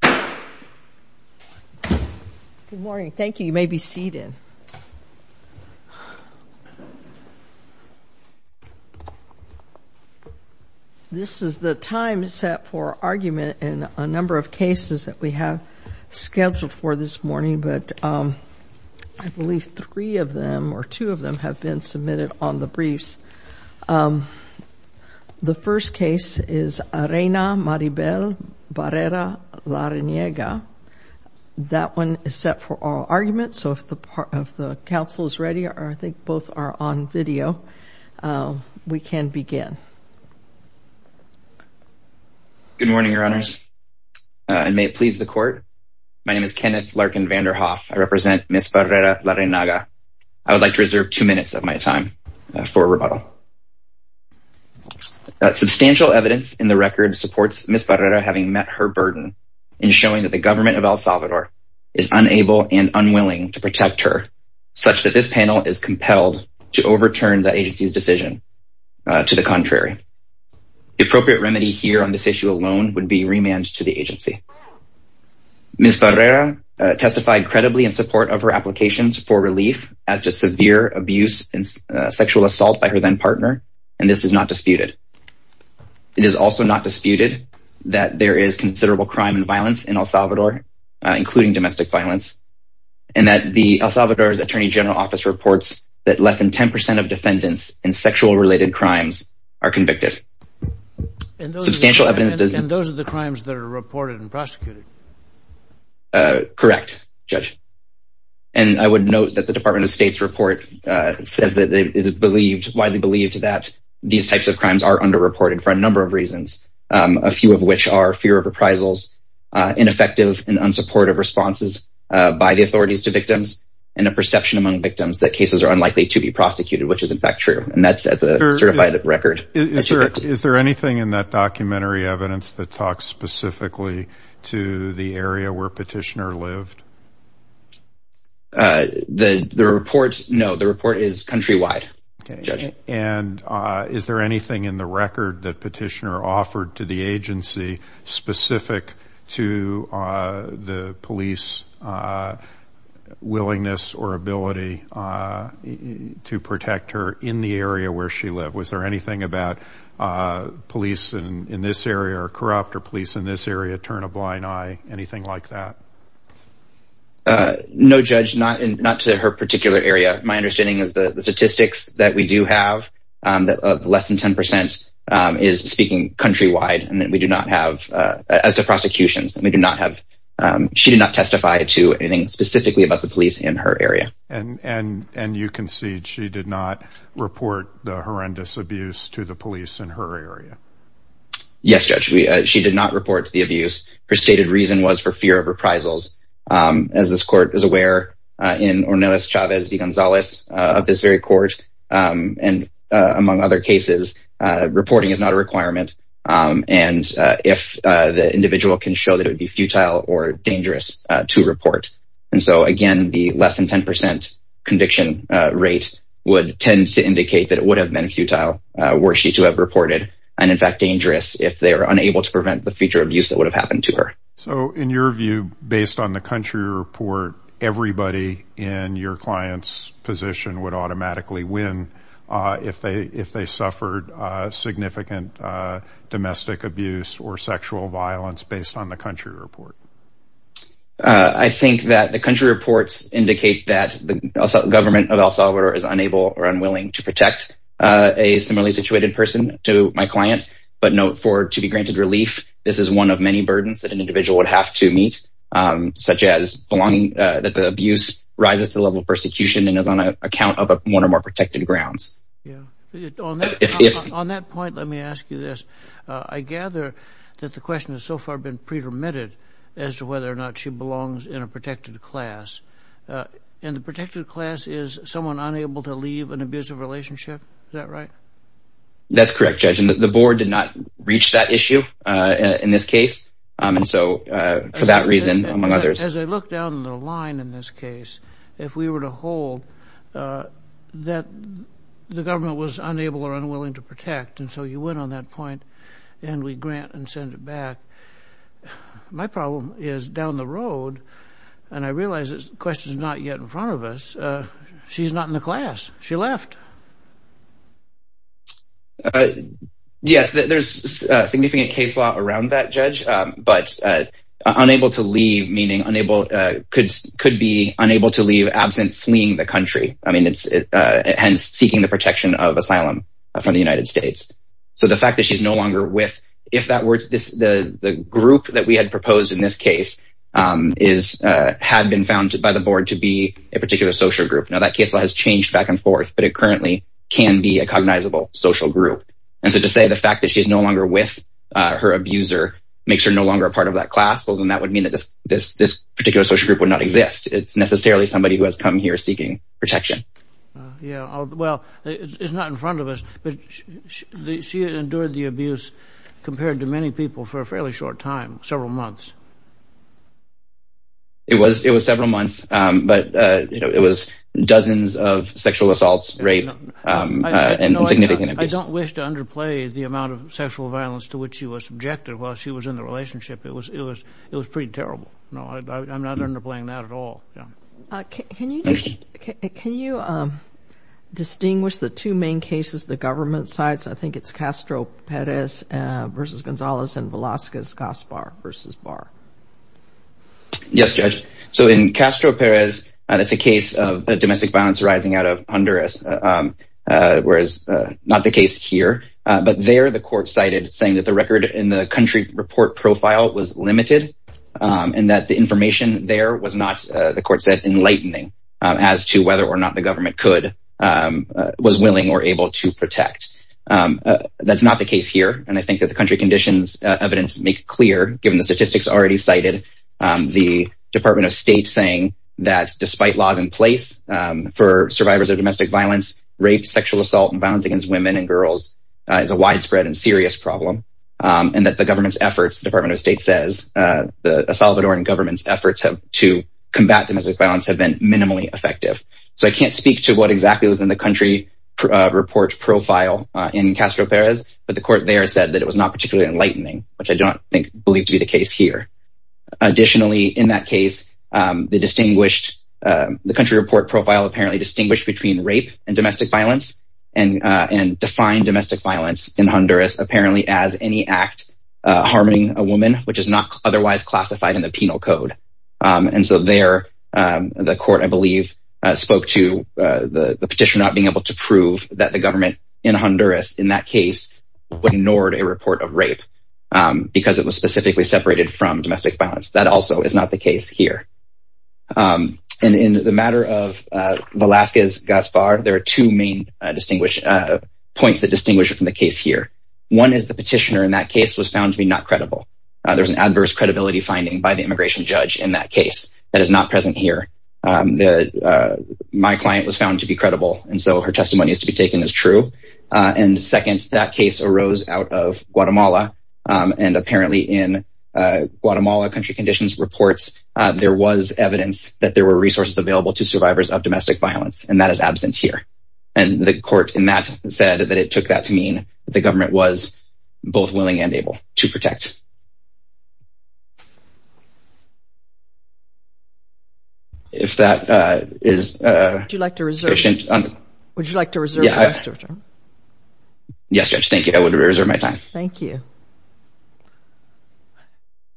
Good morning. Thank you. You may be seated. This is the time set for argument in a number of cases that we have scheduled for this morning, but I believe three of them, or two of them, have been submitted on the briefs. The first case is Arena Maribel Barrera Larreynaga. That one is set for oral argument, so if the Council is ready, or I think both are on video, we can begin. Kenneth Larkin Good morning, Your Honors, and may it please the Court. My name is Kenneth Larkin Vanderhoff. I represent Ms. Barrera Larreynaga. I would like to reserve two minutes of my time for rebuttal. Substantial evidence in the record supports Ms. Barrera having met her burden in showing that the government of El Salvador is unable and unwilling to protect her, such that this panel is compelled to overturn the agency's decision to the contrary. The appropriate remedy here on this issue alone would be remand to the agency. Ms. Barrera testified credibly in support of her applications for relief as to severe abuse and sexual assault by her then-partner, and this is not disputed. It is also not disputed that there is considerable crime and violence in El Salvador, including domestic violence, and that the El Salvador's Attorney General Office reports that less than 10 percent of defendants in sexual-related crimes are convicted. Substantial evidence in the record supports Ms. Barrera's testimony. I would note that the Department of State's report says that it is widely believed that these types of crimes are under-reported for a number of reasons, a few of which are fear of reprisals, ineffective and unsupportive responses by the authorities to victims, and a perception among victims that cases are unlikely to be prosecuted, which is in fact true, and that's at the certified record. Is there anything in that documentary evidence that talks specifically to the area where Petitioner lived? The report, no, the report is countrywide, Judge. And is there anything in the record that Petitioner offered to the agency specific to the police willingness or ability to protect her in the area where she lived? Was there anything about police in this area are corrupt or police in this area turn a blind eye, anything like that? No, Judge, not to her particular area. My understanding is the statistics that we do have of less than 10 percent is speaking countrywide and that we do not have, as to prosecutions, we do not have, she did not testify to anything specifically about the police in her area. Yes, Judge, she did not report to the abuse. Her stated reason was for fear of reprisals. As this court is aware in Ornelas Chavez de Gonzalez of this very court and among other cases, reporting is not a requirement. And if the individual can show that it would be futile or dangerous to report. And so, again, the less than 10 percent conviction rate would tend to were she to have reported and in fact dangerous if they are unable to prevent the future abuse that would have happened to her. So in your view, based on the country report, everybody in your client's position would automatically win if they if they suffered significant domestic abuse or sexual violence based on the country report. I think that the country reports indicate that government of El Salvador is unable or unwilling to protect a similarly situated person to my client. But note for to be granted relief, this is one of many burdens that an individual would have to meet, such as belonging, that the abuse rises to the level of persecution and is on an account of one or more protected grounds. On that point, let me ask you this. I gather that the question has so far been pretermitted as to whether or not she belongs in a protected class and the protected class is someone unable to leave an abusive relationship. Is that right? That's correct, Judge. And the board did not reach that issue in this case. And so for that reason, among others, as I look down the line in this case, if we were to hold that the government was unable or unwilling to protect. And so you went on that point and we grant and send it back. My problem is down the road. And I realize this question is not yet in front of us. She's not in the class. She left. Yes, there's a significant case law around that, Judge. But unable to leave, meaning unable could could be unable to leave absent fleeing the country. I mean, it's and seeking the protection of asylum from the United States. So the fact that she's no longer with if that were this, the group that we had proposed in this case is had been founded by the board to be a particular social group. Now, that case has changed back and forth, but it currently can be a cognizable social group. And so to say the fact that she is no longer with her abuser makes her no longer a part of that class. Well, then that would mean that this this this particular social group would not exist. It's necessarily somebody who has come here seeking protection. Yeah. Well, it's not in compared to many people for a fairly short time, several months. It was it was several months, but it was dozens of sexual assaults, rape and significant abuse. I don't wish to underplay the amount of sexual violence to which she was subjected while she was in the relationship. It was it was it was pretty terrible. No, I'm not underplaying that at all. Can you can you distinguish the two main cases the government sides? I think it's Castro Perez versus Gonzalez and Velasquez Gaspar versus Barr. Yes, Judge. So in Castro Perez, it's a case of domestic violence rising out of Honduras, whereas not the case here. But there, the court cited saying that the record in the country report profile was limited and that the information there was not, the court said, enlightening as to whether or not the government could was willing or able to protect. That's not the case here. And I think that the country conditions evidence make clear, given the statistics already cited, the Department of State saying that despite laws in place for survivors of domestic violence, rape, sexual assault and violence against women and girls is a widespread and serious problem and that the government's efforts, the Department of State says the Salvadoran government's efforts to combat domestic violence have been minimally effective. So I can't speak to what exactly was in the country report profile in Castro Perez. But the court there said that it was not particularly enlightening, which I don't think believed to be the case here. Additionally, in that case, the distinguished the country report profile apparently distinguished between rape and domestic violence and and defined domestic violence in Honduras apparently as any act harming a woman, which is not otherwise classified in the penal code. And so there, the court, I believe, spoke to the petition not being able to prove that the government in Honduras in that case ignored a report of rape because it was specifically separated from domestic violence. That also is not the case here. And in the matter of Velasquez Gaspar, there are two main distinguished points that distinguish from the case here. One is the petitioner in that case was found to be not credible. There's an adverse credibility finding by the immigration judge in that case that is not present here. My client was found to be credible. And so her testimony is to be taken as true. And second, that case arose out of Guatemala. And apparently in Guatemala country conditions reports, there was evidence that there were resources available to survivors of domestic violence. And that is absent here. And the court said that it took that to mean the government was both willing and able to protect. If that is... Would you like to reserve your time? Yes, Judge. Thank you. I would reserve my time. Thank you.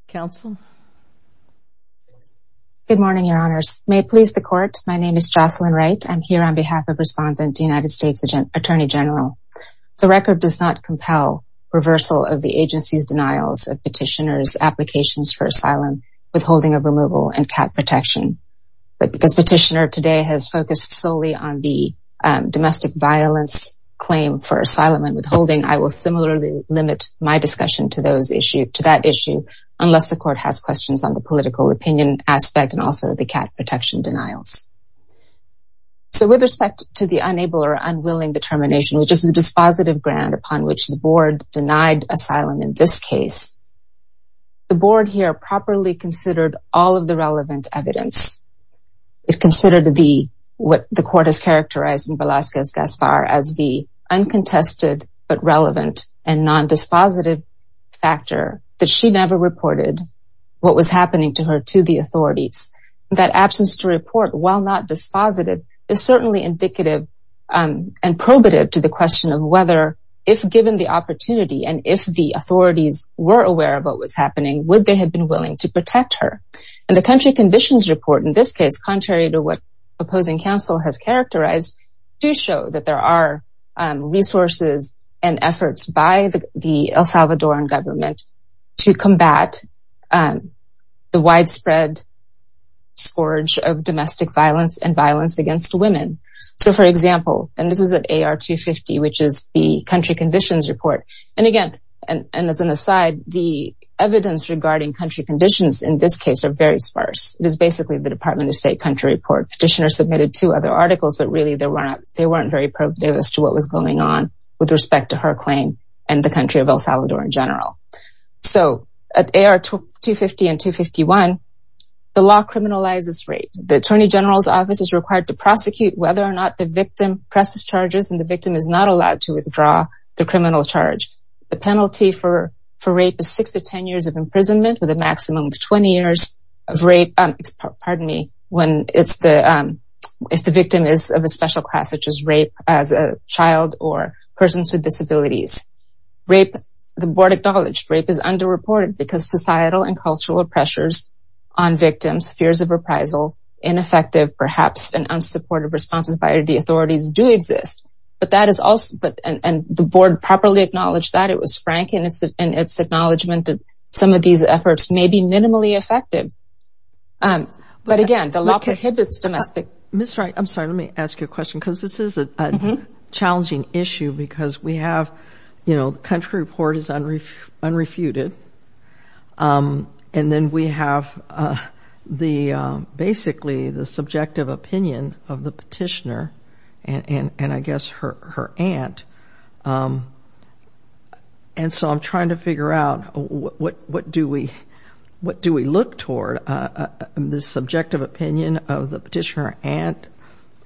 Counsel? Good morning, Your Honors. May it please the court. My name is Jocelyn Wright. I'm here on behalf of the Attorney General. The record does not compel reversal of the agency's denials of petitioners' applications for asylum, withholding of removal and cat protection. But because petitioner today has focused solely on the domestic violence claim for asylum and withholding, I will similarly limit my discussion to that issue, unless the court has questions on the political opinion aspect and also the cat protection denials. So with respect to the unable or unwilling determination, which is the dispositive ground upon which the board denied asylum in this case, the board here properly considered all of the relevant evidence. It considered what the court has characterized in Velazquez-Gaspar as the uncontested but relevant and non-dispositive factor that she never reported what was happening to her to the authorities. That absence to report while not dispositive is certainly indicative and probative to the question of whether, if given the opportunity and if the authorities were aware of what was happening, would they have been willing to protect her? And the country conditions report in this case, contrary to what opposing counsel has characterized, do show that there are resources and efforts by the El Salvadoran government to combat the widespread scourge of domestic violence and violence against women. So for example, and this is at AR-250, which is the country conditions report. And again, and as an aside, the evidence regarding country conditions in this case are very sparse. It is basically the Department of State country report. Petitioner submitted two other articles, but really they weren't very probative as to what was going on with respect to her claim and the country of El Salvador in general. So at AR-250 and 251, the law criminalizes rape. The attorney general's office is required to prosecute whether or not the victim presses charges and the victim is not allowed to withdraw the criminal charge. The penalty for rape is six to 10 years of imprisonment with a maximum of 20 when it's the, if the victim is of a special class, which is rape as a child or persons with disabilities. Rape, the board acknowledged rape is underreported because societal and cultural pressures on victims, fears of reprisal, ineffective, perhaps an unsupportive responses by the authorities do exist. But that is also, and the board properly acknowledged that it was some of these efforts may be minimally effective. But again, the law prohibits domestic. Ms. Wright, I'm sorry, let me ask you a question because this is a challenging issue because we have, you know, the country report is unrefuted. And then we have the basically the subjective opinion of the petitioner and I guess her aunt. And so I'm trying to figure out what do we look toward this subjective opinion of the petitioner aunt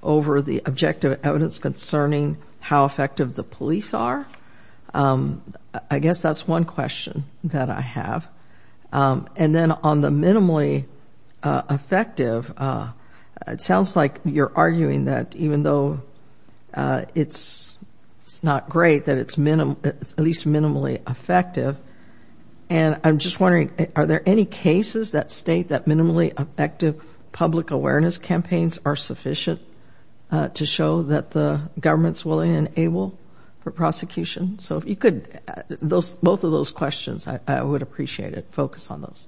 over the objective evidence concerning how effective the police are? I guess that's one question that I have. And then on the minimally effective, it sounds like you're arguing that even though it's not great that it's at least minimally effective. And I'm just wondering, are there any cases that state that minimally effective public awareness campaigns are sufficient to show that the government's willing and able for prosecution? So if you could, those, both of those questions, I would appreciate it. Focus on those.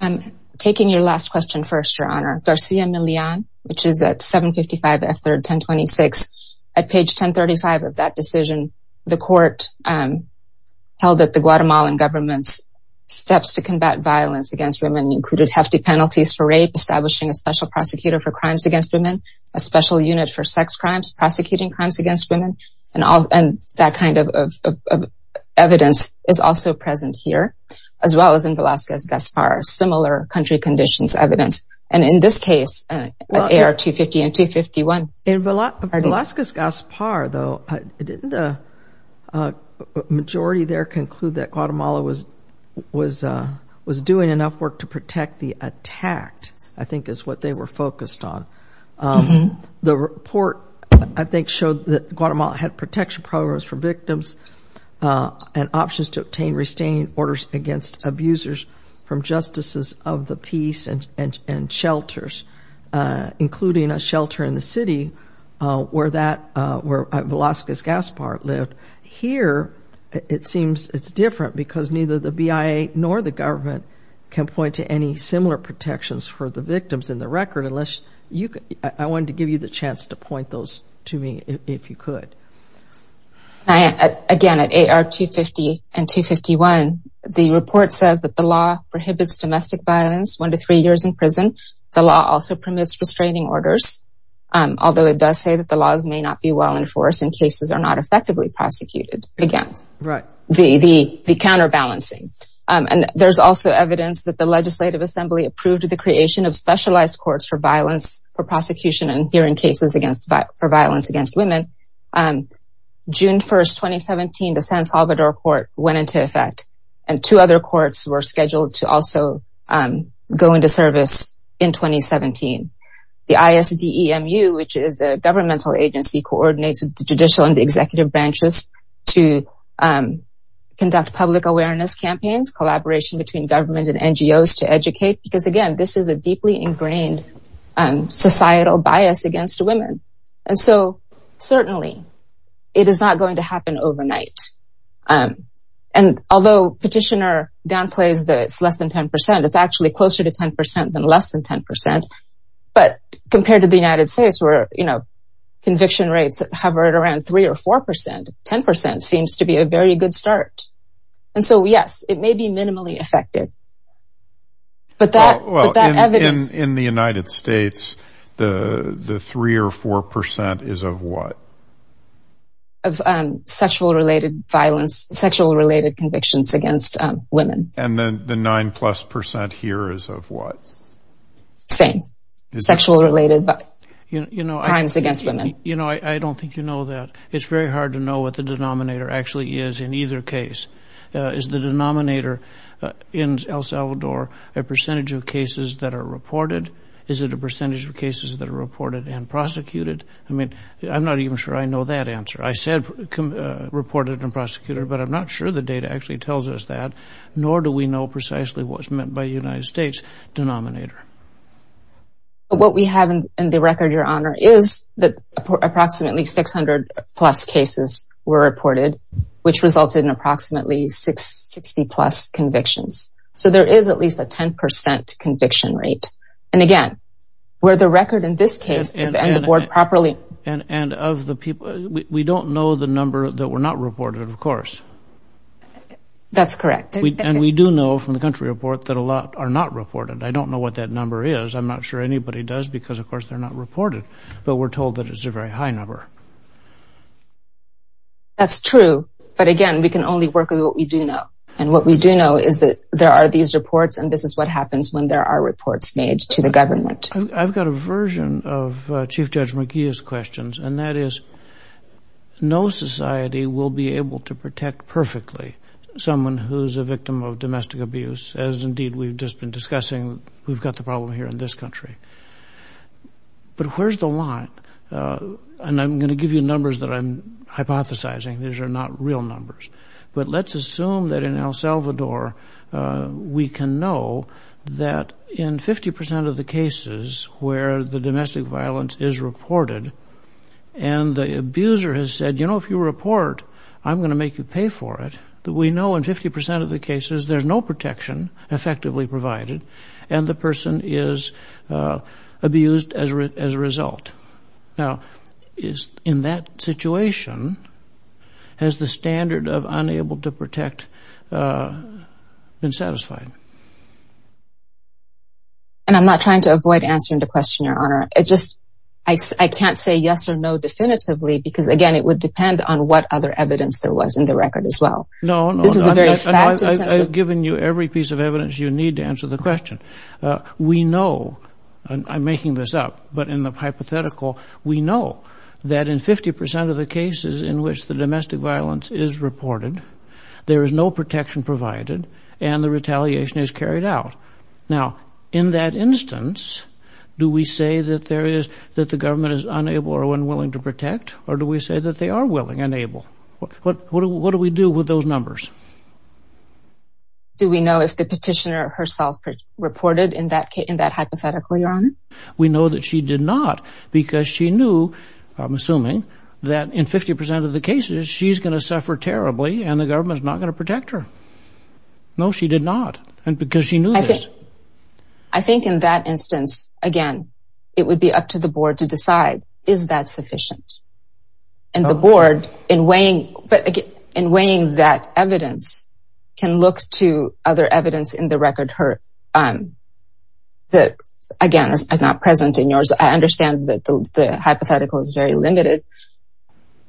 I'm taking your last question first, Your Honor. Garcia Millan, which is at 755 F3rd 1026. At page 1035 of that decision, the court held that the Guatemalan government's steps to combat violence against women included hefty penalties for rape, establishing a special prosecutor for crimes against women, a special unit for sex crimes, prosecuting crimes against women, and that kind of evidence is also present here, as well as in Velazquez-Gaspar, similar country conditions evidence. And in this case, AR-250 and 251. In Velazquez-Gaspar though, didn't the majority there conclude that Guatemala was doing enough work to protect the attacked, I think is what they were focused on. The report, I think, showed that Guatemala had protection programs for victims and options to obtain restraining orders against abusers from justices of the peace and shelters, including a shelter in the city where that, where Velazquez-Gaspar lived. Here, it seems it's different because neither the BIA nor the government can point to any similar protections for the victims in the record, I wanted to give you the chance to point those to me if you could. Again, at AR-250 and 251, the report says that the law prohibits domestic violence one to three years in prison. The law also permits restraining orders, although it does say that the laws may not be well enforced in cases are not effectively prosecuted. Again, the counterbalancing. And there's also evidence that the Legislative Assembly approved the creation of specialized courts for violence for prosecution and hearing cases for violence against women. June 1st, 2017, the San Salvador court went into effect, and two other courts were scheduled to also go into service in 2017. The ISDEMU, which is a governmental agency, coordinates with the judicial and executive branches to conduct public awareness campaigns, collaboration between government and NGOs to educate, because again, this is a deeply ingrained societal bias against women. And so certainly, it is not going to happen overnight. And although petitioner downplays that it's less than 10%, it's actually closer to 10% than less than 10%. But compared to the United States where, you know, conviction rates hovered around three or 4%, 10% seems to be a very good start. And so yes, it may be minimally effective. But that evidence... In the United States, the three or 4% is of what? Of sexual related violence, sexual related convictions against women. And then the nine plus percent here is of what? Same. Sexual related crimes against women. You know, I don't think you know that. It's very hard to know what the denominator actually is in either case. Is the denominator in El Salvador a percentage of cases that are reported? Is it a percentage of cases that are reported and prosecuted? I mean, I'm not even sure I know that answer. I said reported and prosecuted, but I'm not sure the data actually tells us that, nor do we know precisely what's meant by United States denominator. What we have in the record, Your Honor, is that approximately 600 plus cases were reported, which resulted in approximately 60 plus convictions. So there is at least a 10% conviction rate. And again, where the record in this case and the board properly... And of the people, we don't know the number that were not reported, of course. That's correct. And we do know from the country report that a lot are not reported. I don't know what that number is. I'm not sure anybody does, because of course, they're not reported. But we're told that it's a very high number. That's true. But again, we can only work with what we do know. And what we do know is that there are these reports, and this is what happens when there are reports made to the government. I've got a version of Chief Judge McGeeh's questions, and that is, no society will be able to protect perfectly someone who's a victim of domestic abuse, as indeed we've just been discussing. We've got the problem here in this country. But where's the line? And I'm going to give you numbers that I'm hypothesizing. These are not real numbers. But let's assume that in El Salvador, we can know that in 50% of the cases where the domestic violence is reported, and the abuser has said, you know, if you report, I'm going to make you pay for it. We know in 50% of the cases, there's no protection effectively provided, and the person is abused as a result. Now, in that situation, has the standard of unable to protect been satisfied? And I'm not trying to avoid answering the question, Your Honor. I just, I can't say yes or no definitively, because again, it would depend on what other evidence there was in the record as every piece of evidence you need to answer the question. We know, and I'm making this up, but in the hypothetical, we know that in 50% of the cases in which the domestic violence is reported, there is no protection provided, and the retaliation is carried out. Now, in that instance, do we say that there is, that the government is unable or unwilling to protect, or do we say that they are willing and able? What do we do with those numbers? Do we know if the petitioner herself reported in that hypothetical, Your Honor? We know that she did not, because she knew, I'm assuming, that in 50% of the cases, she's going to suffer terribly, and the government is not going to protect her. No, she did not, and because she knew this. I think in that instance, again, it would be up to the board to decide, is that sufficient? And the board, in weighing, but again, can look to other evidence in the record that, again, is not present in yours. I understand that the hypothetical is very limited,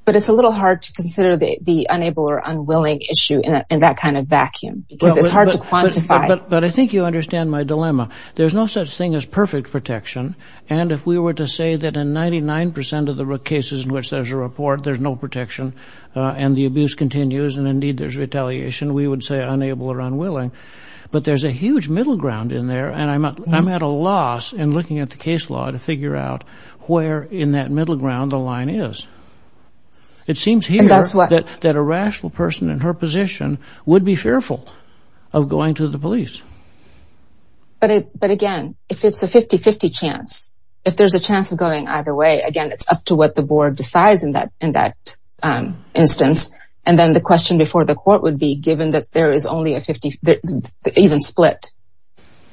but it's a little hard to consider the unable or unwilling issue in that kind of vacuum, because it's hard to quantify. But I think you understand my dilemma. There's no such thing as perfect protection, and if we were to say that in 99% of the cases in which there's a report, there's no protection, and the abuse continues, and indeed there's retaliation, we would say unable or unwilling. But there's a huge middle ground in there, and I'm at a loss in looking at the case law to figure out where in that middle ground the line is. It seems here that a rational person in her position would be fearful of going to the police. But again, if it's a 50-50 chance, if there's a chance of going either way, again, it's up to what the board decides in that instance. And then the question before the court would be, given that there is only a 50-50 split,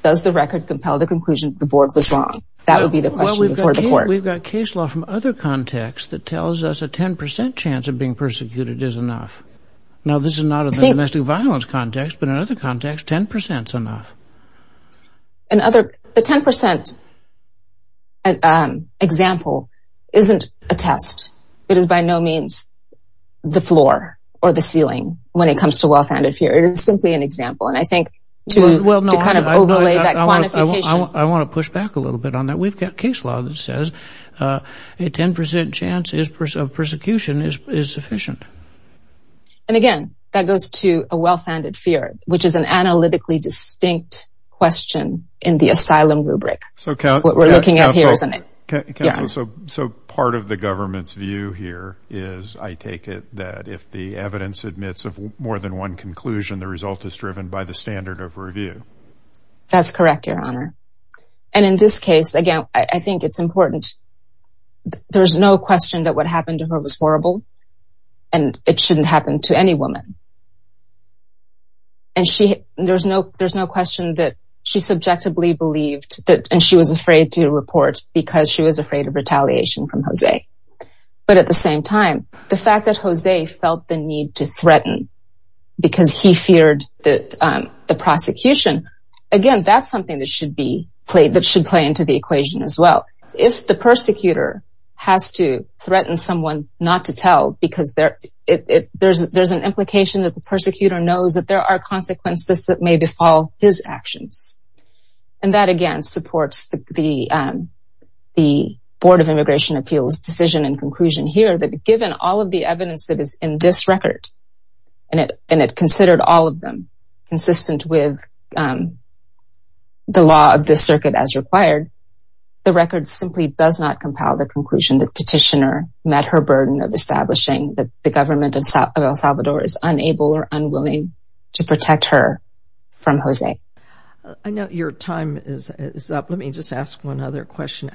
does the record compel the conclusion that the board was wrong? That would be the question before the court. We've got case law from other contexts that tells us a 10% chance of being persecuted is enough. Now, this is not a domestic violence context, but in another context, 10% is enough. A 10% example isn't a test. It is by no means the floor or the ceiling when it comes to well-founded fear. It is simply an example, and I think to kind of overlay that quantification... I want to push back a little bit on that. We've got case law that says a 10% chance of persecution is sufficient. And again, that goes to well-founded fear, which is an analytically distinct question in the asylum rubric. So part of the government's view here is, I take it, that if the evidence admits of more than one conclusion, the result is driven by the standard of review. That's correct, Your Honor. And in this case, again, I think it's important. There's no question that what happened to her was horrible, and it shouldn't happen to any woman. And there's no question that she subjectively believed, and she was afraid to report because she was afraid of retaliation from Jose. But at the same time, the fact that Jose felt the need to threaten because he feared the prosecution, again, that's something that should play into the equation as well. If the persecutor has to threaten someone not to tell because there's an implication that the persecutor knows that there are consequences that may befall his actions. And that, again, supports the Board of Immigration Appeals' decision and conclusion here, that given all of the evidence that is in this record, and it considered all of them consistent with the law of the circuit as required, the record simply does not compel the conclusion the petitioner met her burden of establishing that the government of El Salvador is unable or unwilling to protect her from Jose. I know your time is up. Let me just ask one other question.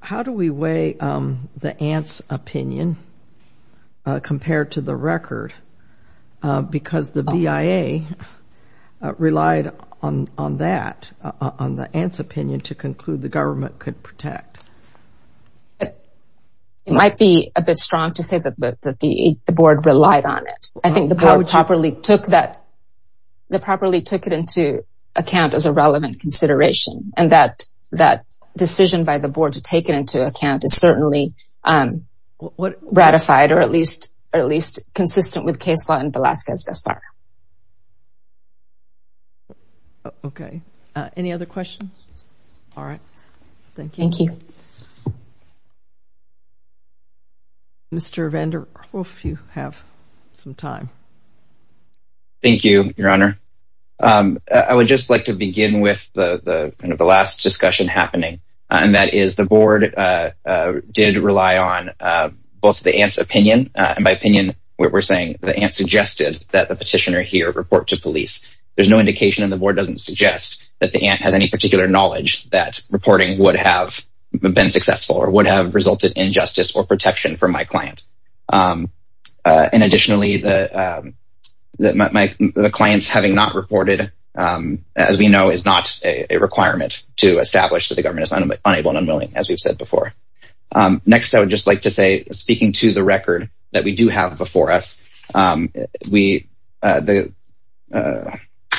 How do we weigh the aunt's opinion compared to the record? Because the BIA relied on that, on the aunt's opinion, to conclude the government could protect. It might be a bit strong to say that the Board relied on it. I think the Board properly took that properly took it into account as a relevant consideration, and that decision by the Board to take it into account is certainly ratified, or at least consistent with the case law in Velazquez-Gaspar. Okay, any other questions? All right, thank you. Mr. Vanderhoof, you have some time. Thank you, Your Honor. I would just like to begin with the last discussion happening, and that is the Board did rely on both the aunt's opinion, and by opinion, we're saying the aunt suggested that the petitioner here report to police. There's no indication, and the Board doesn't suggest, that the aunt has any particular knowledge that reporting would have been successful or would have resulted in justice or protection for my client. And additionally, the clients having not reported, as we know, is not a requirement to establish that the government is unable and unwilling, as we've said before. Next, I would just like to say, speaking to the record that we do have before us, the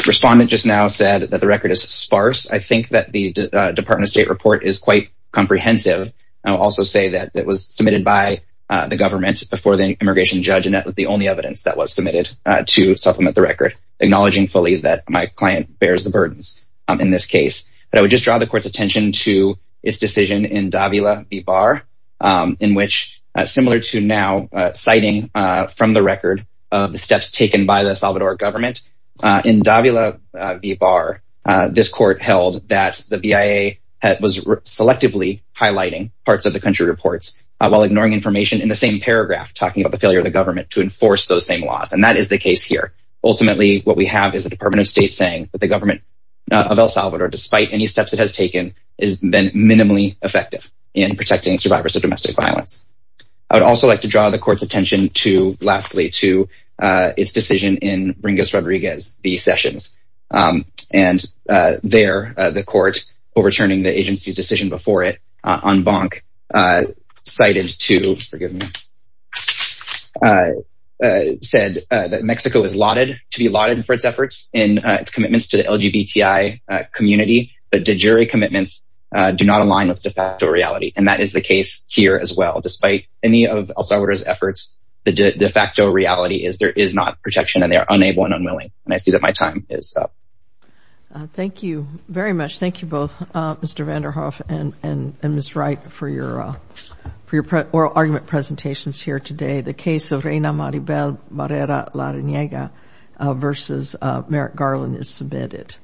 respondent just now said that the record is sparse. I think that the Department of State report is quite comprehensive. I'll also say that it was submitted by the government before the immigration judge, and that was the only evidence that was submitted to supplement the record, acknowledging fully that my client bears the burdens in this case. But I would just draw the court's attention to its decision in Davila v. Barr, in which, similar to now citing from the record of the steps taken by the El Salvador government, in Davila v. Barr, this court held that the BIA was selectively highlighting parts of the country reports while ignoring information in the same paragraph talking about the failure of the what we have is the Department of State saying that the government of El Salvador, despite any steps it has taken, is minimally effective in protecting survivors of domestic violence. I would also like to draw the court's attention to, lastly, to its decision in Ringas Rodriguez v. Sessions. And there, the court, overturning the agency's decision before it on Bonk, cited to, forgive me, said that Mexico is lauded to be lauded for its efforts in its commitments to the LGBTI community, but de jure commitments do not align with de facto reality. And that is the case here as well. Despite any of El Salvador's efforts, the de facto reality is there is not protection and they are unable and unwilling. And I see that my time is up. Thank you very much. Thank you both, Mr. Vanderhoef and Ms. Wright, for your oral argument presentations here today. The case of Reyna Maribel Barrera-Larañega v. Merrick Garland is submitted.